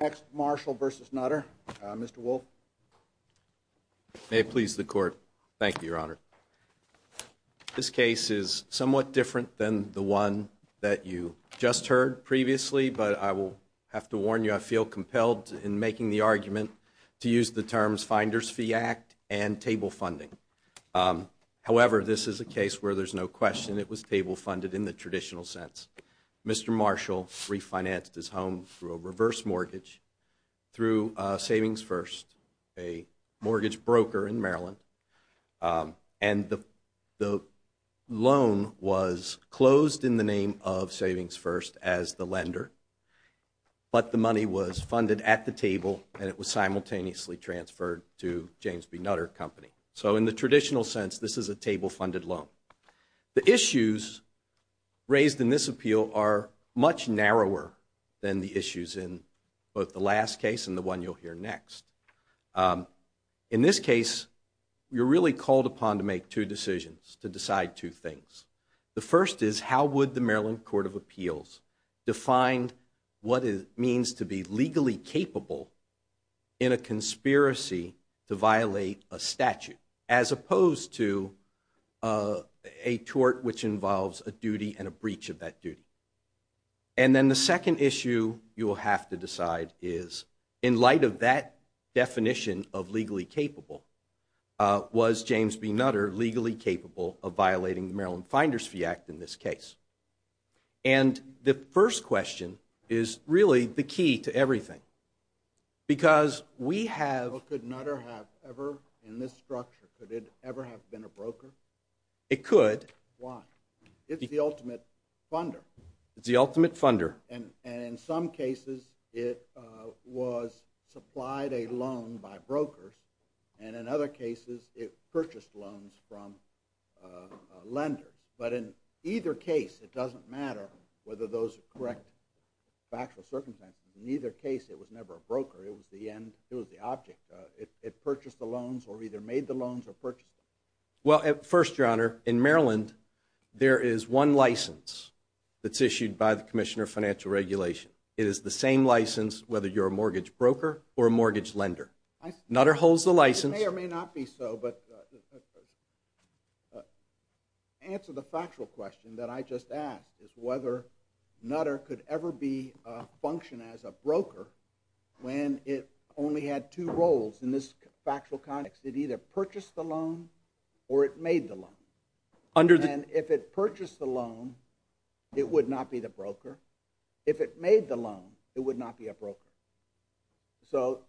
Next, Marshall v. Nutter. Mr. Wolfe. May it please the Court. Thank you, Your Honor. This case is somewhat different than the one that you just heard previously, but I will have to warn you, I feel compelled in making the argument to use the terms Finder's Fee Act and table funding. However, this is a case where there's no question it was table funded in the traditional sense. Mr. Marshall refinanced his home through a reverse mortgage, through Savings First, a mortgage broker in Maryland. And the loan was closed in the name of Savings First as the lender, but the money was funded at the table and it was simultaneously transferred to James B. Nutter & Company. So in the traditional sense, this is a table funded loan. The issues raised in this appeal are much narrower than the issues in both the last case and the one you'll hear next. In this case, you're really called upon to make two decisions, to decide two things. The first is how would the Maryland Court of Appeals define what it means to be legally capable in a conspiracy to violate a statute, as opposed to a tort which involves a duty and a breach of that duty. And then the second issue you will have to decide is, in light of that definition of legally capable, was James B. Nutter legally capable of violating the Maryland Finder's Fee Act in this case? And the first question is really the key to everything, because we have... Could Nutter have ever, in this structure, could it ever have been a broker? It could. Why? It's the ultimate funder. It's the ultimate funder. And in some cases, it was supplied a loan by brokers, and in other cases, it purchased loans from lenders. But in either case, it doesn't matter whether those are correct factual circumstances. In either case, it was never a broker. It was the end. It was the object. It purchased the loans or either made the loans or purchased them. Well, first, Your Honor, in Maryland, there is one license that's issued by the Commissioner of Financial Regulation. It is the same license whether you're a mortgage broker or a mortgage lender. Nutter holds the license... It may or may not be so, but the answer to the factual question that I just asked is whether Nutter could ever be a function as a broker when it only had two roles. In this factual context, it either purchased the loan or it made the loan. And if it purchased the loan, it would not be the broker. If it made the loan, it would not be a broker. So,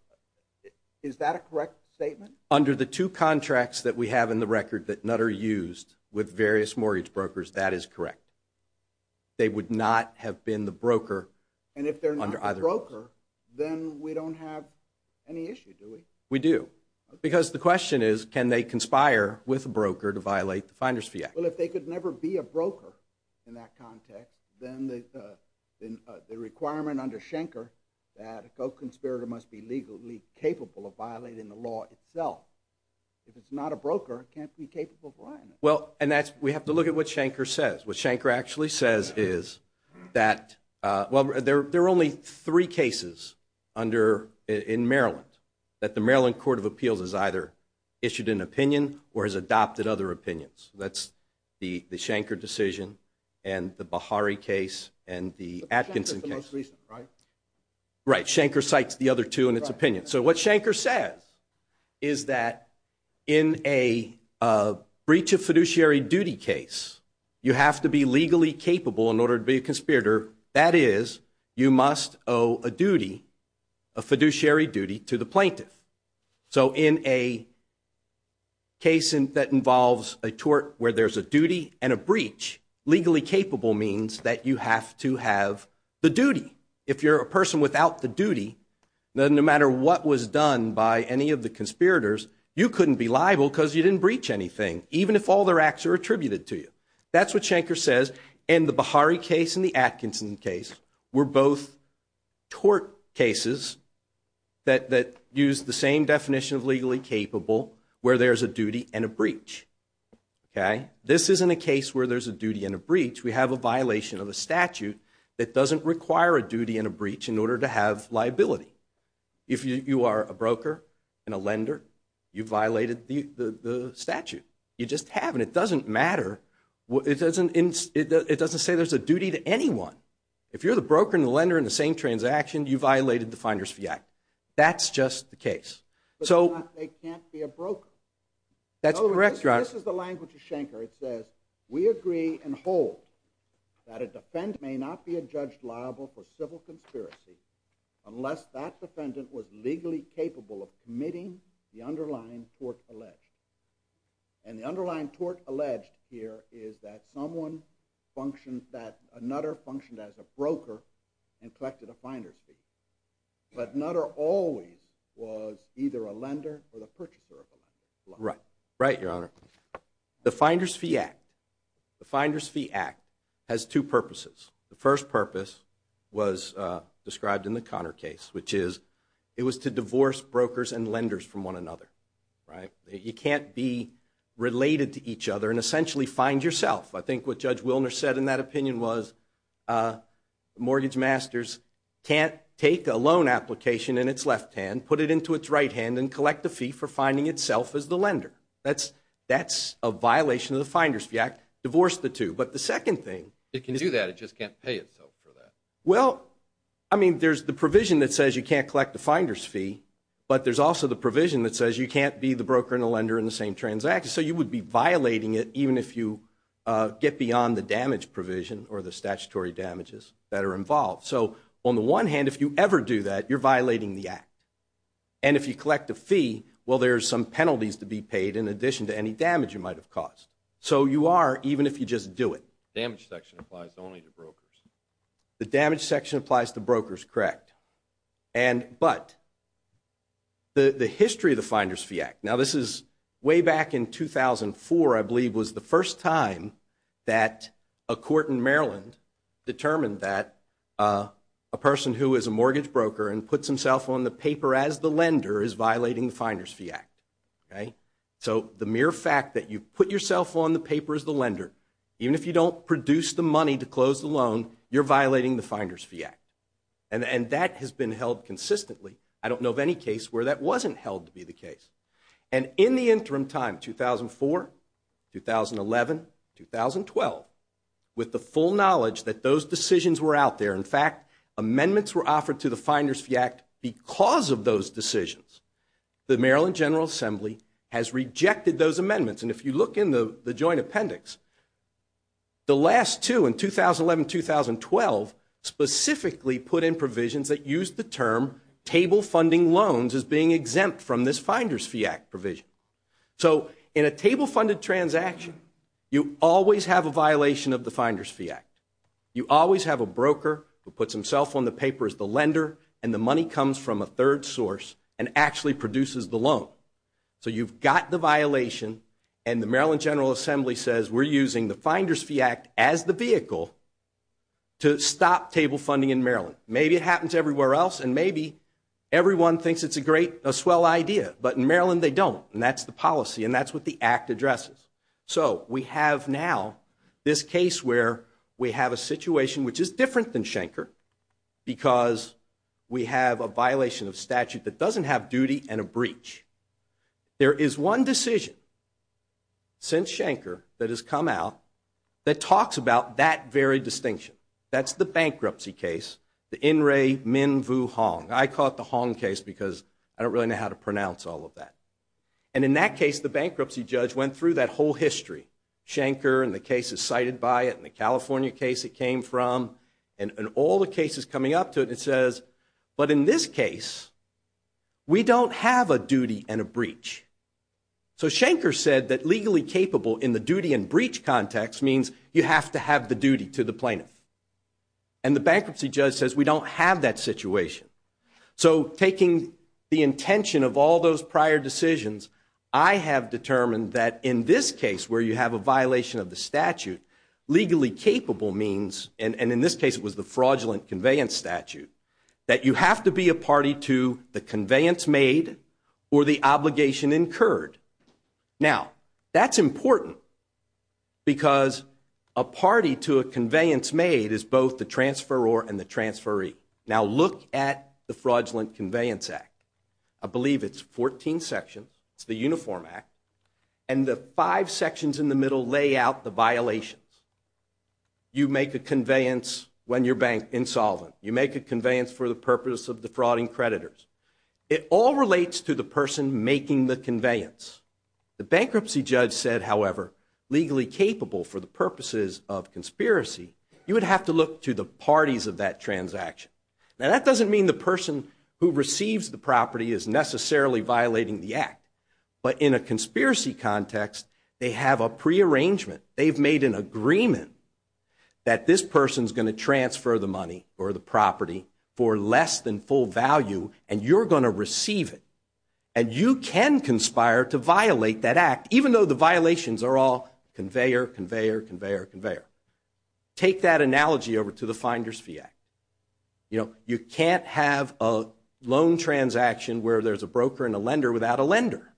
is that a correct statement? Under the two contracts that we have in the record that Nutter used with various mortgage brokers, that is correct. They would not have been the broker under either of those. And if they're not the broker, then we don't have any issue, do we? We do. Because the question is, can they conspire with a broker to violate the Finder's Fee Act? Well, if they could never be a broker in that context, then the requirement under Schenker that a co-conspirator must be legally capable of violating the law itself. If it's not a broker, it can't be capable of violating it. Well, and that's... we have to look at what Schenker says. What Schenker actually says is that... well, there are only three cases in Maryland that the Maryland Court of Appeals has either issued an opinion or has adopted other opinions. That's the Schenker decision, and the Bahari case, and the Atkinson case. The Plaintiff's the most recent, right? Right. Schenker cites the other two in its opinion. So, what Schenker says is that in a breach of fiduciary duty case, you have to be legally capable in order to be a conspirator. That is, you must owe a duty, a fiduciary duty, to the plaintiff. So, in a case that involves a tort where there's a duty and a breach, legally capable means that you have to have the duty. If you're a person without the duty, then no matter what was done by any of the conspirators, you couldn't be liable because you didn't breach anything, even if all their acts are attributed to you. That's what Schenker says, and the Bahari case and the Atkinson case were both tort cases that used the same definition of legally capable where there's a duty and a breach. This isn't a case where there's a duty and a breach. We have a violation of a statute that doesn't require a duty and a breach in order to have liability. If you are a broker and a lender, you violated the statute. You just have, and it doesn't matter. It doesn't say there's a duty to anyone. If you're the broker and the lender in the same transaction, you violated the Finder's Fee Act. That's just the case. But they can't be a broker. That's correct, Your Honor. This is the language of Schenker. It says, we agree and hold that a defendant may not be a judge liable for civil conspiracy unless that defendant was legally capable of committing the underlying tort alleged. And the underlying tort alleged here is that someone functioned, that another functioned as a broker and collected a Finder's Fee. But another always was either a lender or the purchaser of a lender. Right. Right, Your Honor. The Finder's Fee Act. The Finder's Fee Act has two purposes. The first purpose was described in the Conner case, which is, it was to divorce brokers and lenders from one another. You can't be related to each other and essentially find yourself. I think what Judge Wilner said in that opinion was mortgage masters can't take a loan application in its left hand, put it into its right hand, and collect the fee for finding itself as the lender. That's a violation of the Finder's Fee Act. Divorce the two. But the second thing. It can do that. It just can't pay itself for that. Well, I mean, there's the provision that says you can't collect the Finder's Fee, but there's also the provision that says you can't be the broker and the lender in the same transaction. So you would be violating it even if you get beyond the damage provision or the statutory damages that are involved. So on the one hand, if you ever do that, you're violating the act. And if you collect a fee, well, there's some penalties to be paid in addition to any damage you might have caused. So you are, even if you just do it. The damage section applies only to brokers. The damage section applies to brokers, correct. But the history of the Finder's Fee Act. Now, this is way back in 2004, I believe, was the first time that a court in Maryland determined that a person who is a mortgage broker and puts himself on the paper as the lender is violating the Finder's Fee Act. So the mere fact that you put yourself on the paper as the lender, even if you don't produce the money to close the loan, you're violating the Finder's Fee Act. And that has been held consistently. I don't know of any case where that wasn't held to be the case. And in the interim time, 2004, 2011, 2012, with the full knowledge that those decisions were out there, in fact, amendments were offered to the Finder's Fee Act because of those decisions, the Maryland General Assembly has rejected those amendments. And if you look in the joint appendix, the last two, in 2011, 2012, specifically put in provisions that use the term table funding loans as being exempt from this Finder's Fee Act provision. So in a table funded transaction, you always have a violation of the Finder's Fee Act. You always have a broker who puts himself on the paper as the lender, and the money comes from a third source and actually produces the loan. So you've got the violation, and the Maryland General Assembly says, we're using the Finder's Fee Act as the vehicle to stop table funding in Maryland. Maybe it happens everywhere else, and maybe everyone thinks it's a swell idea, but in Maryland they don't, and that's the policy, and that's what the Act addresses. So we have now this case where we have a situation which is different than Schenker because we have a violation of statute that doesn't have duty and a breach. There is one decision since Schenker that has come out that talks about that very distinction. That's the bankruptcy case, the In Re Min Vu Hong. I call it the Hong case because I don't really know how to pronounce all of that. And in that case, the bankruptcy judge went through that whole history, Schenker, and the cases cited by it, and the California case it came from, and all the cases coming up to it. It says, but in this case, we don't have a duty and a breach. So Schenker said that legally capable in the duty and breach context means you have to have the duty to the plaintiff, and the bankruptcy judge says we don't have that situation. So taking the intention of all those prior decisions, I have determined that in this case where you have a violation of the statute, legally capable means, and in this case it was the fraudulent conveyance statute, that you have to be a party to the conveyance made or the obligation incurred. Now, that's important because a party to a conveyance made is both the transferor and the transferee. Now look at the Fraudulent Conveyance Act. I believe it's 14 sections. It's the Uniform Act. And the five sections in the middle lay out the violations. You make a conveyance when you're bank insolvent. You make a conveyance for the purpose of defrauding creditors. It all relates to the person making the conveyance. The bankruptcy judge said, however, legally capable for the purposes of conspiracy, you would have to look to the parties of that transaction. Now, that doesn't mean the person who receives the property is necessarily violating the act. But in a conspiracy context, they have a prearrangement. They've made an agreement that this person's going to transfer the money or the property for less than full value, and you're going to receive it. And you can conspire to violate that act, even though the violations are all conveyor, conveyor, conveyor, conveyor. Take that analogy over to the Finder's Fee Act. You know, you can't have a loan transaction where there's a broker and a lender without a lender.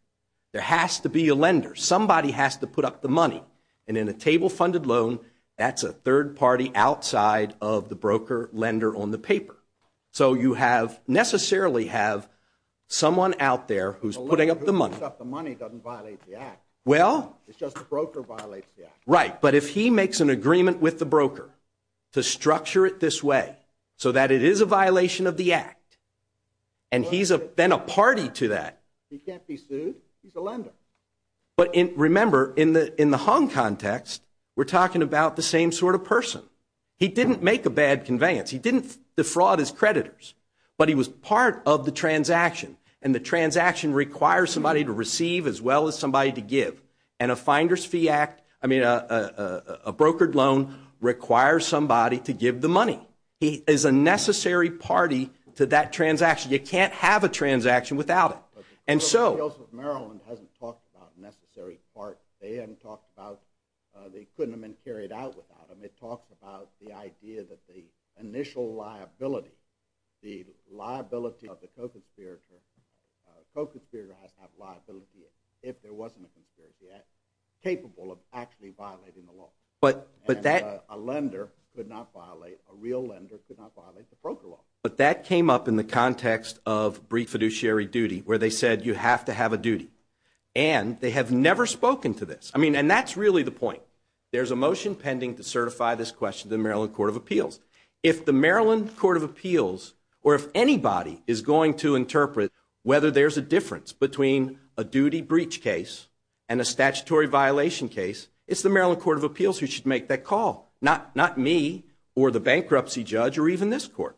There has to be a lender. Somebody has to put up the money. And in a table-funded loan, that's a third party outside of the broker-lender on the paper. So you have necessarily have someone out there who's putting up the money. The one who puts up the money doesn't violate the act. Well. It's just the broker violates the act. Right. But if he makes an agreement with the broker to structure it this way, so that it is a violation of the act, and he's then a party to that. He can't be sued. He's a lender. But remember, in the hung context, we're talking about the same sort of person. He didn't make a bad conveyance. He didn't defraud his creditors. But he was part of the transaction, and the transaction requires somebody to receive as well as somebody to give. And a brokered loan requires somebody to give the money. He is a necessary party to that transaction. You can't have a transaction without it. But the Court of Appeals of Maryland hasn't talked about necessary part. They hadn't talked about they couldn't have been carried out without him. It talks about the idea that the initial liability, the liability of the co-conspirator, co-conspirator has to have liability if there wasn't a conspiracy act, capable of actually violating the law. A lender could not violate, a real lender could not violate the broker law. But that came up in the context of brief fiduciary duty, where they said you have to have a duty. And they have never spoken to this. I mean, and that's really the point. There's a motion pending to certify this question to the Maryland Court of Appeals. If the Maryland Court of Appeals, or if anybody is going to interpret whether there's a difference between a duty breach case and a statutory violation case, it's the Maryland Court of Appeals who should make that call, not me or the bankruptcy judge or even this court.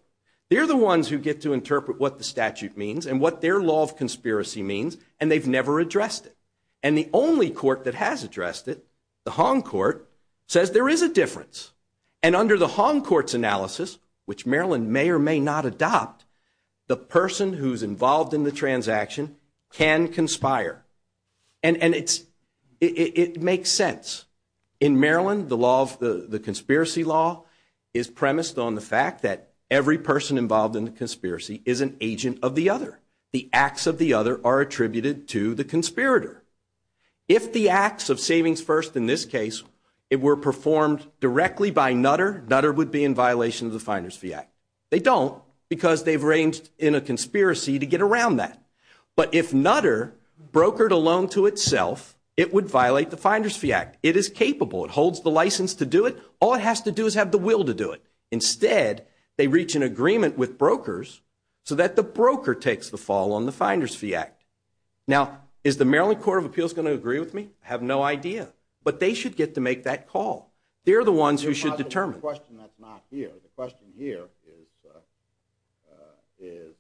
They're the ones who get to interpret what the statute means and what their law of conspiracy means, and they've never addressed it. And the only court that has addressed it, the Hong Court, says there is a difference. And under the Hong Court's analysis, which Maryland may or may not adopt, the person who's involved in the transaction can conspire. And it makes sense. In Maryland, the conspiracy law is premised on the fact that every person involved in the conspiracy is an agent of the other. The acts of the other are attributed to the conspirator. If the acts of Savings First in this case were performed directly by Nutter, Nutter would be in violation of the Finder's Fee Act. They don't because they've arranged in a conspiracy to get around that. But if Nutter brokered a loan to itself, it would violate the Finder's Fee Act. It is capable. It holds the license to do it. All it has to do is have the will to do it. Instead, they reach an agreement with brokers so that the broker takes the fall on the Finder's Fee Act. Now, is the Maryland Court of Appeals going to agree with me? I have no idea. But they should get to make that call. They're the ones who should determine. It's not the question that's not here. The question here is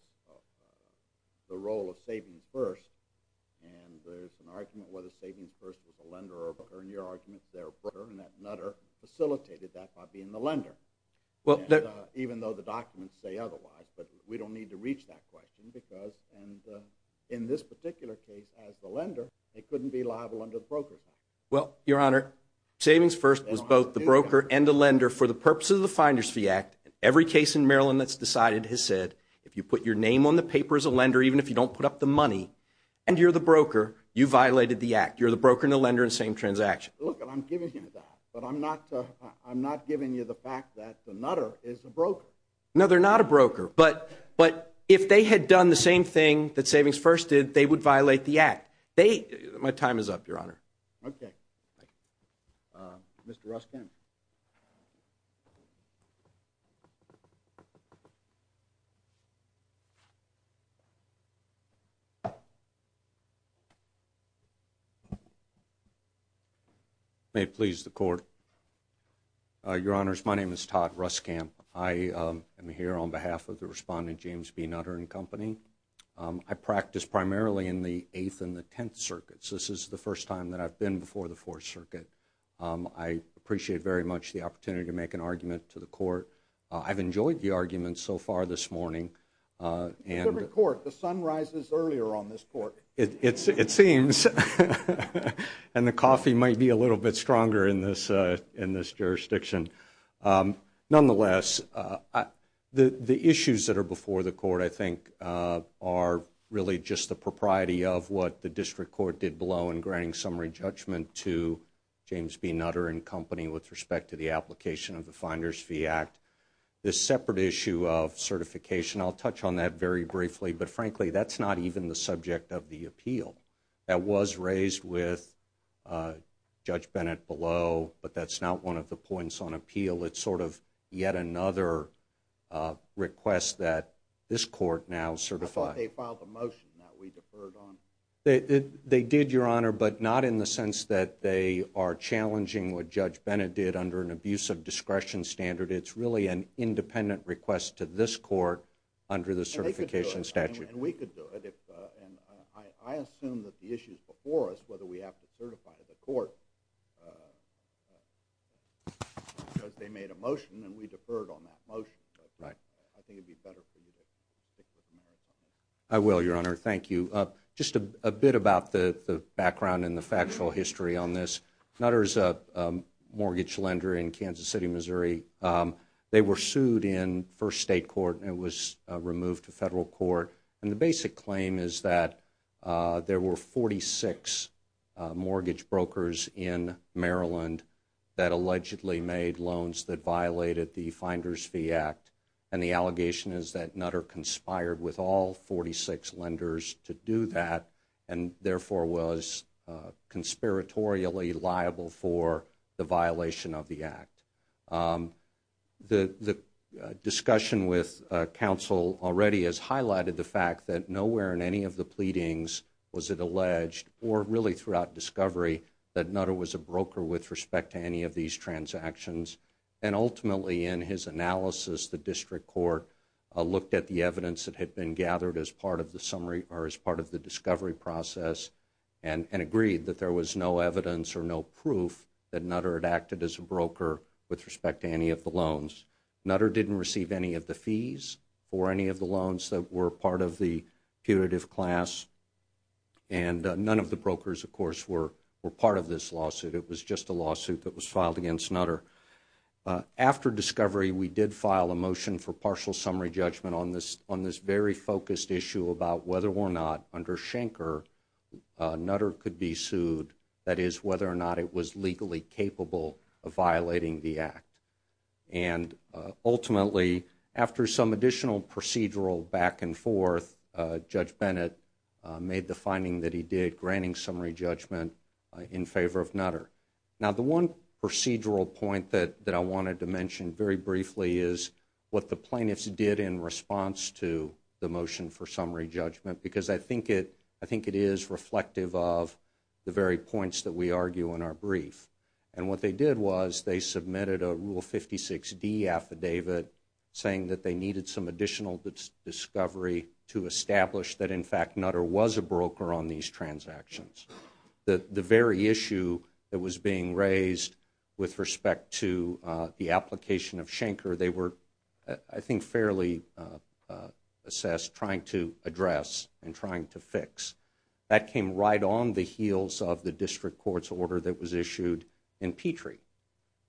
the role of Savings First. And there's an argument whether Savings First was a lender or broker, and your argument is they're a broker, and that Nutter facilitated that by being the lender, even though the documents say otherwise. But we don't need to reach that question because in this particular case, as the lender, they couldn't be liable under the Brokers Act. Well, Your Honor, Savings First was both the broker and the lender for the purposes of the Finder's Fee Act. Every case in Maryland that's decided has said, if you put your name on the paper as a lender, even if you don't put up the money, and you're the broker, you violated the act. You're the broker and the lender in the same transaction. Look, and I'm giving you that, but I'm not giving you the fact that the Nutter is a broker. No, they're not a broker. But if they had done the same thing that Savings First did, they would violate the act. My time is up, Your Honor. Okay. Mr. Ruskamp. May it please the Court. Your Honors, my name is Todd Ruskamp. I am here on behalf of the respondent, James B. Nutter and Company. I practice primarily in the Eighth and the Tenth Circuits. This is the first time that I've been before the Fourth Circuit. I appreciate very much the opportunity to make an argument to the Court. I've enjoyed the argument so far this morning. It's a different Court. The sun rises earlier on this Court. It seems. And the coffee might be a little bit stronger in this jurisdiction. Nonetheless, the issues that are before the Court, I think, are really just the propriety of what the District Court did below in granting summary judgment to James B. Nutter and Company with respect to the application of the Finder's Fee Act. This separate issue of certification, I'll touch on that very briefly. But frankly, that's not even the subject of the appeal. That was raised with Judge Bennett below, but that's not one of the points on appeal. It's sort of yet another request that this Court now certifies. I thought they filed a motion that we deferred on. They did, Your Honor, but not in the sense that they are challenging what Judge Bennett did under an abuse of discretion standard. It's really an independent request to this Court under the certification statute. And we could do it. I assume that the issues before us, whether we have to certify the Court, because they made a motion and we deferred on that motion. I think it would be better for you to stick with the matter. I will, Your Honor. Thank you. Just a bit about the background and the factual history on this. Nutter is a mortgage lender in Kansas City, Missouri. They were sued in first state court and it was removed to federal court. And the basic claim is that there were 46 mortgage brokers in Maryland that allegedly made loans that violated the Finder's Fee Act. And the allegation is that Nutter conspired with all 46 lenders to do that and therefore was conspiratorially liable for the violation of the act. The discussion with counsel already has highlighted the fact that nowhere in any of the pleadings was it alleged, or really throughout discovery, that Nutter was a broker with respect to any of these transactions. And ultimately, in his analysis, the district court looked at the evidence that had been gathered as part of the discovery process and agreed that there was no evidence or no proof that Nutter had acted as a broker with respect to any of the loans. Nutter didn't receive any of the fees for any of the loans that were part of the punitive class. And none of the brokers, of course, were part of this lawsuit. It was just a lawsuit that was filed against Nutter. After discovery, we did file a motion for partial summary judgment on this very focused issue about whether or not, under Schenker, Nutter could be sued, that is, whether or not it was legally capable of violating the act. And ultimately, after some additional procedural back and forth, Judge Bennett made the finding that he did, granting summary judgment in favor of Nutter. Now, the one procedural point that I wanted to mention very briefly is what the plaintiffs did in response to the motion for summary judgment, because I think it is reflective of the very points that we argue in our brief. And what they did was they submitted a Rule 56D affidavit saying that they needed some additional discovery to establish that, in fact, Nutter was a broker on these transactions. The very issue that was being raised with respect to the application of Schenker, they were, I think, fairly assessed, trying to address and trying to fix. That came right on the heels of the district court's order that was issued in Petrie.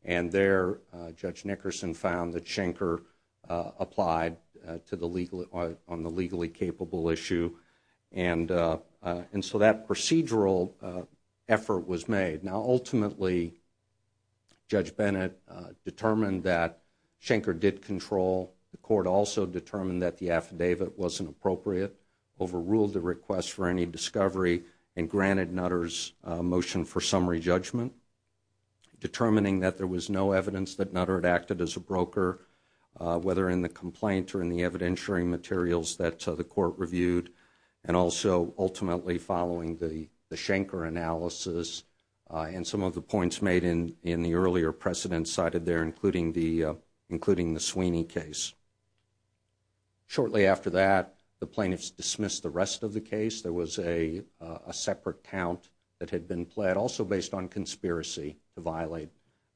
And there, Judge Nickerson found that Schenker applied on the legally capable issue. And so that procedural effort was made. Now, ultimately, Judge Bennett determined that Schenker did control. The court also determined that the affidavit wasn't appropriate, overruled the request for any discovery, and granted Nutter's motion for summary judgment, determining that there was no evidence that Nutter had acted as a broker, whether in the complaint or in the evidentiary materials that the court reviewed, and also ultimately following the Schenker analysis and some of the points made in the earlier precedent cited there, including the Sweeney case. Shortly after that, the plaintiffs dismissed the rest of the case. There was a separate count that had been pled, also based on conspiracy, to violate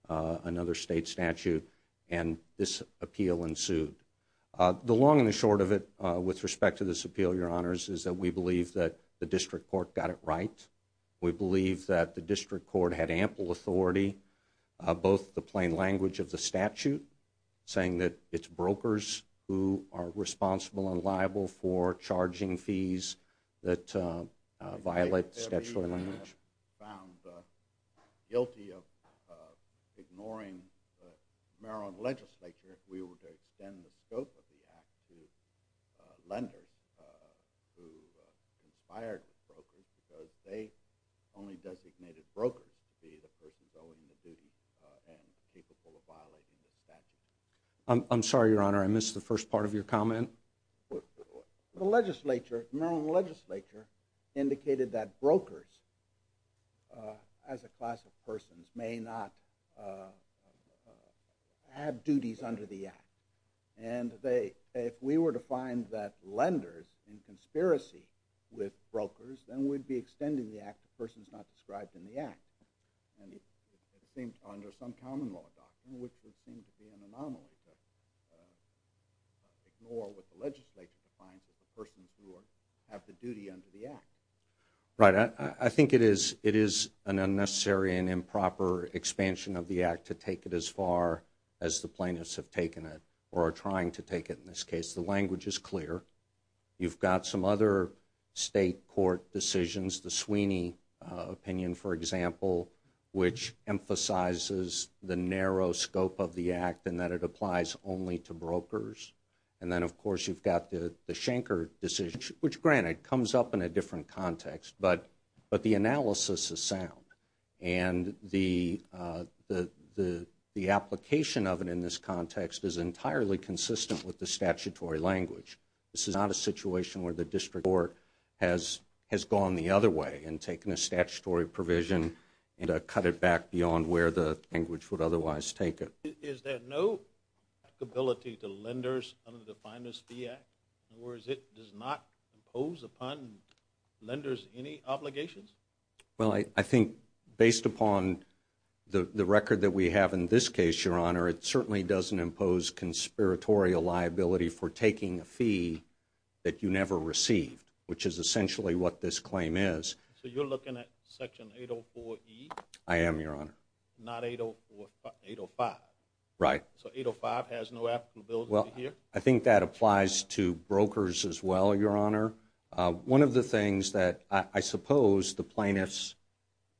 another state statute. And this appeal ensued. The long and the short of it with respect to this appeal, Your Honors, is that we believe that the district court got it right. We believe that the district court had ample authority, both the plain language of the statute, saying that it's brokers who are responsible and liable for charging fees that violate statutory language. We found guilty of ignoring the Maryland legislature if we were to extend the scope of the act to lenders who conspired with brokers because they only designated brokers to be the persons owing the duties and capable of violating the statute. I'm sorry, Your Honor, I missed the first part of your comment. The Maryland legislature indicated that brokers, as a class of persons, may not have duties under the act. And if we were to find that lenders in conspiracy with brokers, then we'd be extending the act to persons not described in the act, under some common law doctrine, which would seem to be an anomaly to ignore what the legislature defines as the persons who have the duty under the act. Right. I think it is an unnecessary and improper expansion of the act to take it as far as the plaintiffs have taken it or are trying to take it in this case. The language is clear. You've got some other state court decisions, the Sweeney opinion, for example, which emphasizes the narrow scope of the act and that it applies only to brokers. And then, of course, you've got the Schenker decision, which, granted, comes up in a different context, but the analysis is sound. And the application of it in this context is entirely consistent with the statutory language. This is not a situation where the district court has gone the other way and taken a statutory provision and cut it back beyond where the language would otherwise take it. Is there no applicability to lenders under the Finest Fee Act? In other words, it does not impose upon lenders any obligations? Well, I think based upon the record that we have in this case, Your Honor, it certainly doesn't impose conspiratorial liability for taking a fee that you never received, which is essentially what this claim is. So you're looking at Section 804E? I am, Your Honor. Not 805? Right. So 805 has no applicability here? Well, I think that applies to brokers as well, Your Honor. One of the things that I suppose the plaintiffs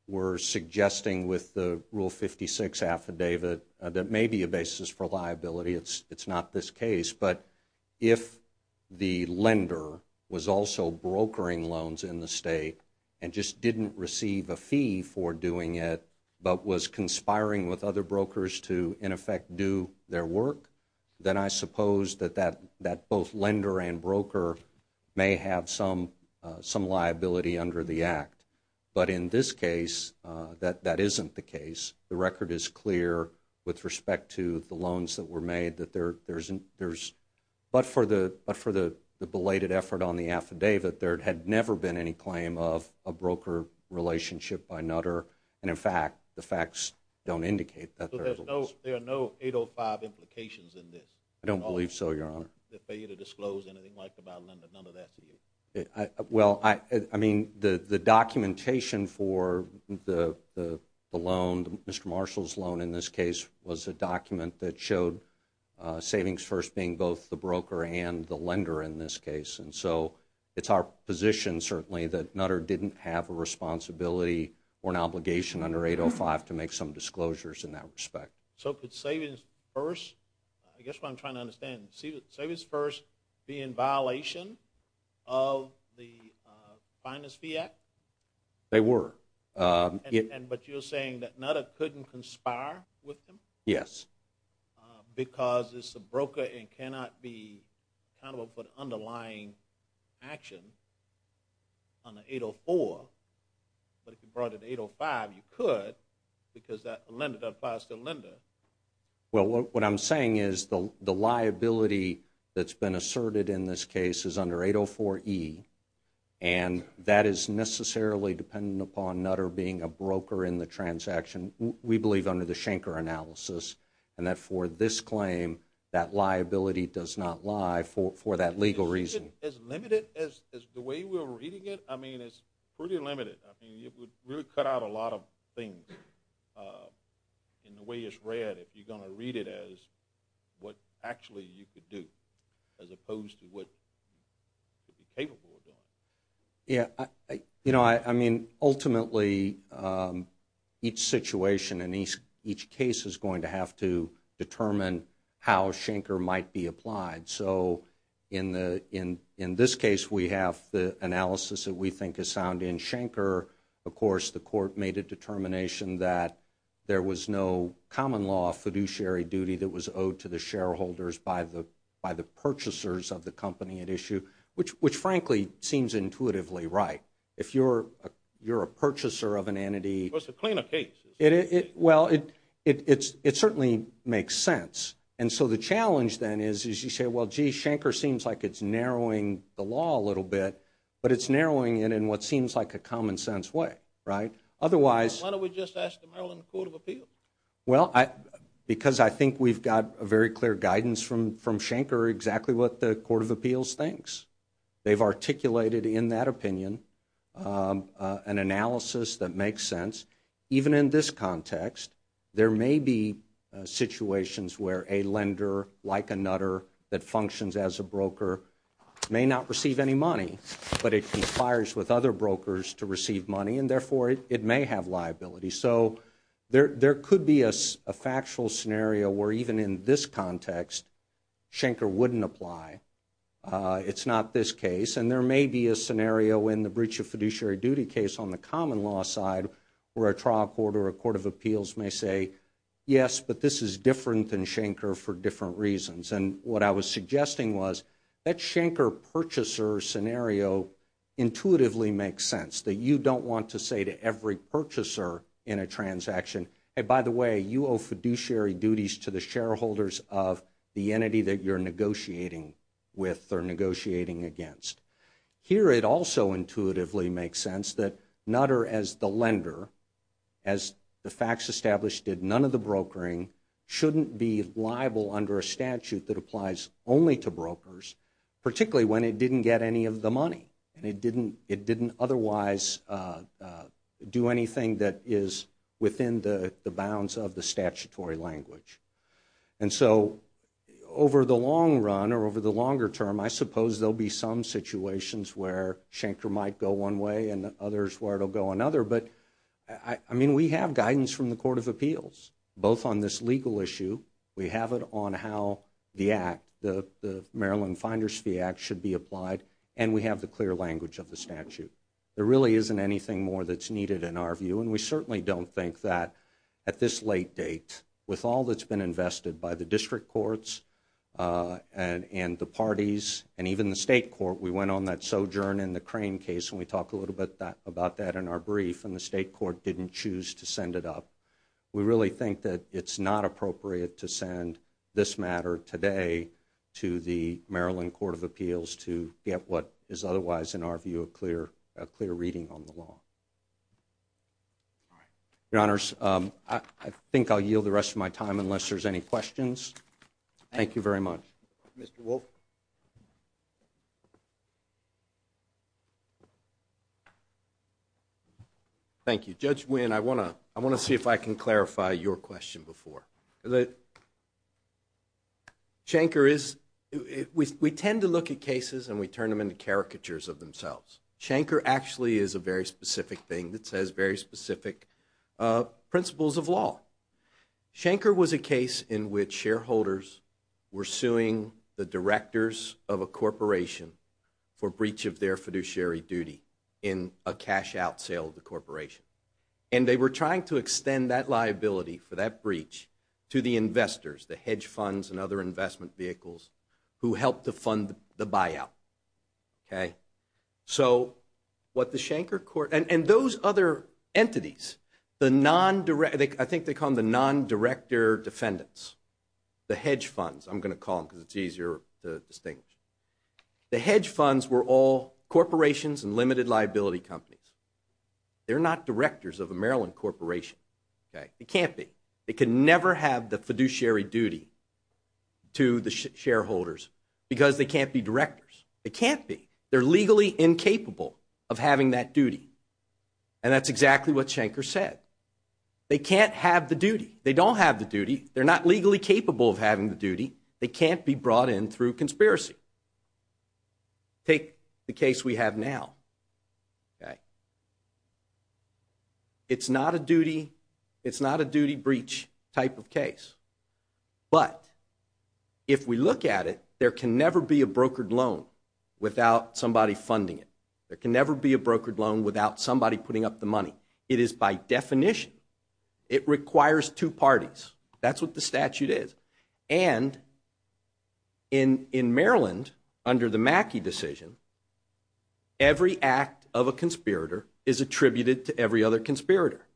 were suggesting with the Rule 56 affidavit that may be a basis for liability, it's not this case, but if the lender was also brokering loans in the state and just didn't receive a fee for doing it but was conspiring with other brokers to, in effect, do their work, then I suppose that both lender and broker may have some liability under the Act. But in this case, that isn't the case. The record is clear with respect to the loans that were made. But for the belated effort on the affidavit, there had never been any claim of a broker relationship by Nutter, and, in fact, the facts don't indicate that there was. So there are no 805 implications in this? I don't believe so, Your Honor. They fail you to disclose anything like about lending none of that to you? Well, I mean, the documentation for the loan, Mr. Marshall's loan in this case, was a document that showed savings first being both the broker and the lender in this case. And so it's our position, certainly, that Nutter didn't have a responsibility or an obligation under 805 to make some disclosures in that respect. So could savings first, I guess what I'm trying to understand, could savings first be in violation of the Finance Fee Act? They were. But you're saying that Nutter couldn't conspire with them? Yes. Because it's a broker and cannot be accountable for the underlying action on the 804. But if you brought in 805, you could because that applies to the lender. Well, what I'm saying is the liability that's been asserted in this case is under 804E, and that is necessarily dependent upon Nutter being a broker in the transaction, we believe, under the Schenker analysis, and that for this claim that liability does not lie for that legal reason. As limited as the way we're reading it? I mean, it's pretty limited. I mean, it would really cut out a lot of things in the way it's read if you're going to read it as what actually you could do, as opposed to what you'd be capable of doing. Yeah. You know, I mean, ultimately, each situation and each case is going to have to determine how Schenker might be applied. So in this case, we have the analysis that we think is sound in Schenker. Of course, the court made a determination that there was no common law of fiduciary duty that was owed to the shareholders by the purchasers of the company at issue, which, frankly, seems intuitively right. If you're a purchaser of an entity... Well, it's a cleaner case. Well, it certainly makes sense. And so the challenge, then, is you say, well, gee, Schenker seems like it's narrowing the law a little bit, but it's narrowing it in what seems like a common-sense way, right? Why don't we just ask the Maryland Court of Appeals? Well, because I think we've got very clear guidance from Schenker exactly what the Court of Appeals thinks. They've articulated in that opinion an analysis that makes sense. Even in this context, there may be situations where a lender, like a nutter, that functions as a broker may not receive any money, but it complies with other brokers to receive money, and therefore it may have liability. So there could be a factual scenario where even in this context, Schenker wouldn't apply. It's not this case. And there may be a scenario in the breach of fiduciary duty case on the common law side where a trial court or a court of appeals may say, yes, but this is different than Schenker for different reasons. And what I was suggesting was that Schenker purchaser scenario intuitively makes sense, that you don't want to say to every purchaser in a transaction, hey, by the way, you owe fiduciary duties to the shareholders of the entity that you're negotiating with or negotiating against. Here it also intuitively makes sense that nutter as the lender, as the facts establish did none of the brokering, shouldn't be liable under a statute that applies only to brokers, particularly when it didn't get any of the money and it didn't otherwise do anything that is within the bounds of the statutory language. And so over the long run or over the longer term, I suppose there will be some situations where Schenker might go one way and others where it will go another. But, I mean, we have guidance from the court of appeals, both on this legal issue. We have it on how the act, the Maryland Finders Fee Act, should be applied, and we have the clear language of the statute. There really isn't anything more that's needed in our view, and we certainly don't think that at this late date with all that's been invested by the district courts and the parties and even the state court, we went on that sojourn in the Crane case, and we talked a little bit about that in our brief, and the state court didn't choose to send it up. We really think that it's not appropriate to send this matter today to the Maryland Court of Appeals to get what is otherwise, in our view, a clear reading on the law. All right. Your Honors, I think I'll yield the rest of my time unless there's any questions. Thank you very much. Mr. Wolf? Thank you. Judge Nguyen, I want to see if I can clarify your question before. Schenker is, we tend to look at cases and we turn them into caricatures of themselves. Schenker actually is a very specific thing that says very specific principles of law. Schenker was a case in which shareholders were suing the directors of a corporation for breach of their fiduciary duty in a cash-out sale of the corporation, and they were trying to extend that liability for that breach to the investors, the hedge funds and other investment vehicles who helped to fund the buyout. So what the Schenker court, and those other entities, I think they call them the non-director defendants, the hedge funds. I'm going to call them because it's easier to distinguish. The hedge funds were all corporations and limited liability companies. They're not directors of a Maryland corporation. It can't be. They can never have the fiduciary duty to the shareholders because they can't be directors. They can't be. They're legally incapable of having that duty. And that's exactly what Schenker said. They can't have the duty. They don't have the duty. They're not legally capable of having the duty. They can't be brought in through conspiracy. Take the case we have now. Okay. It's not a duty breach type of case. But if we look at it, there can never be a brokered loan without somebody funding it. There can never be a brokered loan without somebody putting up the money. It is by definition. It requires two parties. That's what the statute is. And in Maryland, under the Mackey decision, every act of a conspirator is attributed to every other conspirator.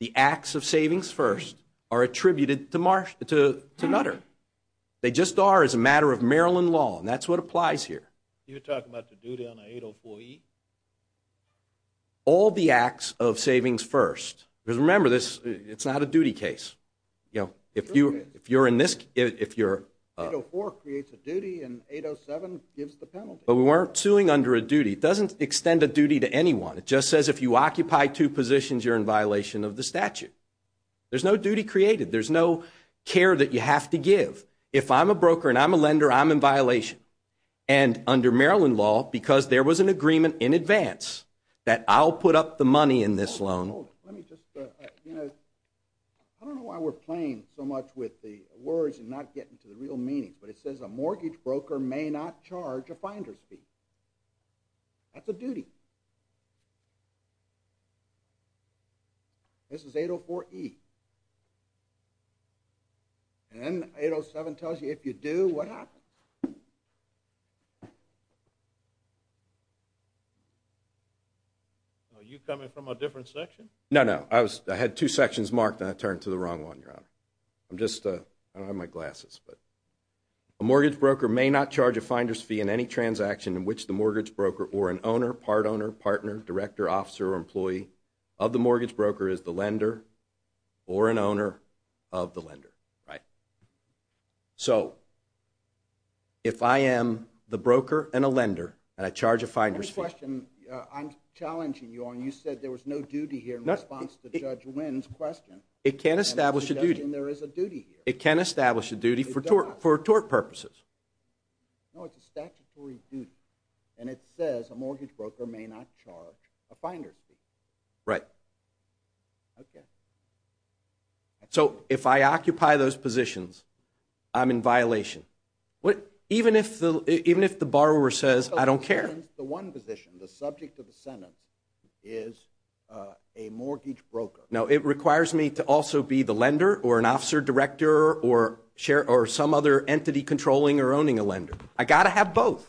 The acts of savings first are attributed to Nutter. They just are as a matter of Maryland law, and that's what applies here. You're talking about the duty on the 804E? All the acts of savings first. Because remember, it's not a duty case. If you're in this, if you're... 804 creates a duty, and 807 gives the penalty. But we weren't suing under a duty. It doesn't extend a duty to anyone. It just says if you occupy two positions, you're in violation of the statute. There's no duty created. There's no care that you have to give. If I'm a broker and I'm a lender, I'm in violation. And under Maryland law, because there was an agreement in advance that I'll put up the money in this loan. Hold it, hold it. Let me just... I don't know why we're playing so much with the words and not getting to the real meanings, but it says a mortgage broker may not charge a finder's fee. That's a duty. This is 804E. And 807 tells you if you do, what happens. Are you coming from a different section? No, no. I had two sections marked, and I turned to the wrong one, Your Honor. I'm just... I don't have my glasses, but... In which the mortgage broker or an owner, part owner, partner, director, officer, or employee of the mortgage broker is the lender or an owner of the lender, right? So if I am the broker and a lender and I charge a finder's fee. One question I'm challenging you on. You said there was no duty here in response to Judge Wynn's question. It can establish a duty. And there is a duty here. It can establish a duty for tort purposes. No, it's a statutory duty. And it says a mortgage broker may not charge a finder's fee. Right. Okay. So if I occupy those positions, I'm in violation. Even if the borrower says, I don't care. The one position, the subject of the sentence, is a mortgage broker. No, it requires me to also be the lender or an officer, director, or some other entity controlling or owning a lender. I've got to have both.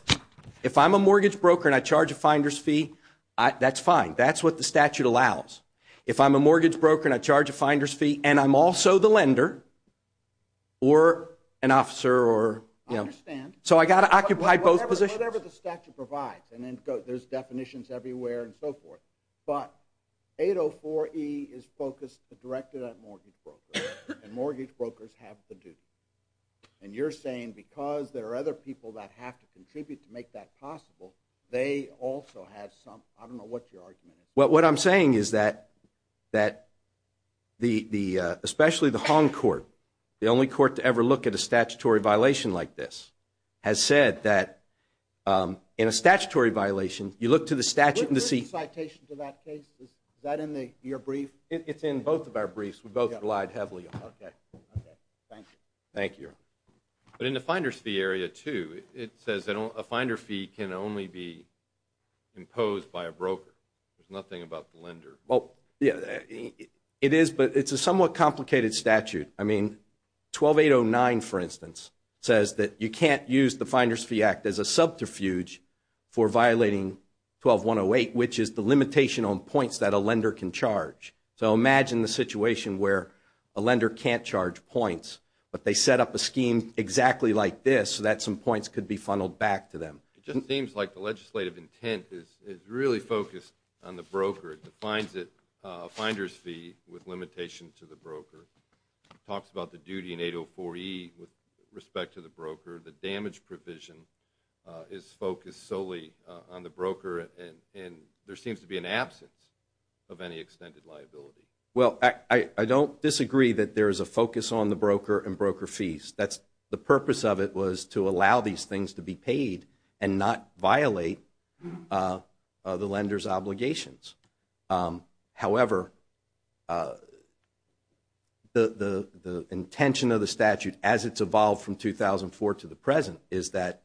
If I'm a mortgage broker and I charge a finder's fee, that's fine. That's what the statute allows. If I'm a mortgage broker and I charge a finder's fee and I'm also the lender or an officer or, you know... I understand. So I've got to occupy both positions. Whatever the statute provides. And there's definitions everywhere and so forth. But 804E is focused, directed at mortgage brokers. And mortgage brokers have the duty. And you're saying because there are other people that have to contribute to make that possible, they also have some... I don't know what your argument is. Well, what I'm saying is that especially the Hong Court, the only court to ever look at a statutory violation like this, has said that in a statutory violation, you look to the statute... Is there a citation to that case? Is that in your brief? It's in both of our briefs. We both relied heavily on that. Okay. Thank you. Thank you. But in the finder's fee area, too, it says a finder's fee can only be imposed by a broker. There's nothing about the lender. Well, yeah, it is. But it's a somewhat complicated statute. I mean, 12809, for instance, says that you can't use the Finder's Fee Act as a subterfuge for violating 12108, which is the limitation on points that a lender can charge. So imagine the situation where a lender can't charge points, but they set up a scheme exactly like this so that some points could be funneled back to them. It just seems like the legislative intent is really focused on the broker. It defines it a finder's fee with limitation to the broker. It talks about the duty in 804E with respect to the broker. The damage provision is focused solely on the broker, and there seems to be an absence of any extended liability. Well, I don't disagree that there is a focus on the broker and broker fees. The purpose of it was to allow these things to be paid and not violate the lender's obligations. However, the intention of the statute as it's evolved from 2004 to the present is that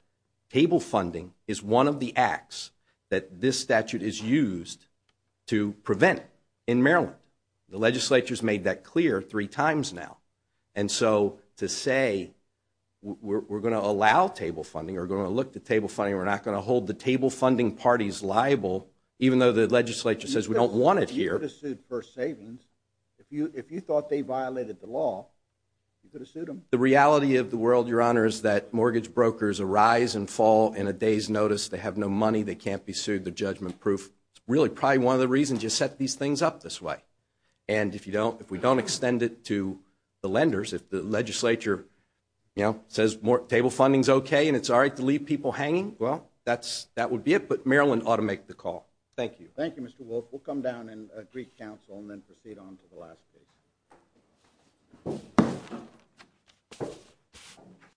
table funding is one of the acts that this statute is used to prevent in Maryland. The legislature has made that clear three times now. And so to say we're going to allow table funding or we're going to look at table funding, we're not going to hold the table funding parties liable, even though the legislature says we don't want it here. You could have sued for savings. If you thought they violated the law, you could have sued them. The reality of the world, Your Honor, is that mortgage brokers arise and fall in a day's notice. They have no money. They can't be sued. They're judgment-proof. It's really probably one of the reasons you set these things up this way. And if we don't extend it to the lenders, if the legislature says table funding is okay and it's all right to leave people hanging, well, that would be it. But Maryland ought to make the call. Thank you. Thank you, Mr. Wolf. We'll come down and greet counsel and then proceed on to the last case.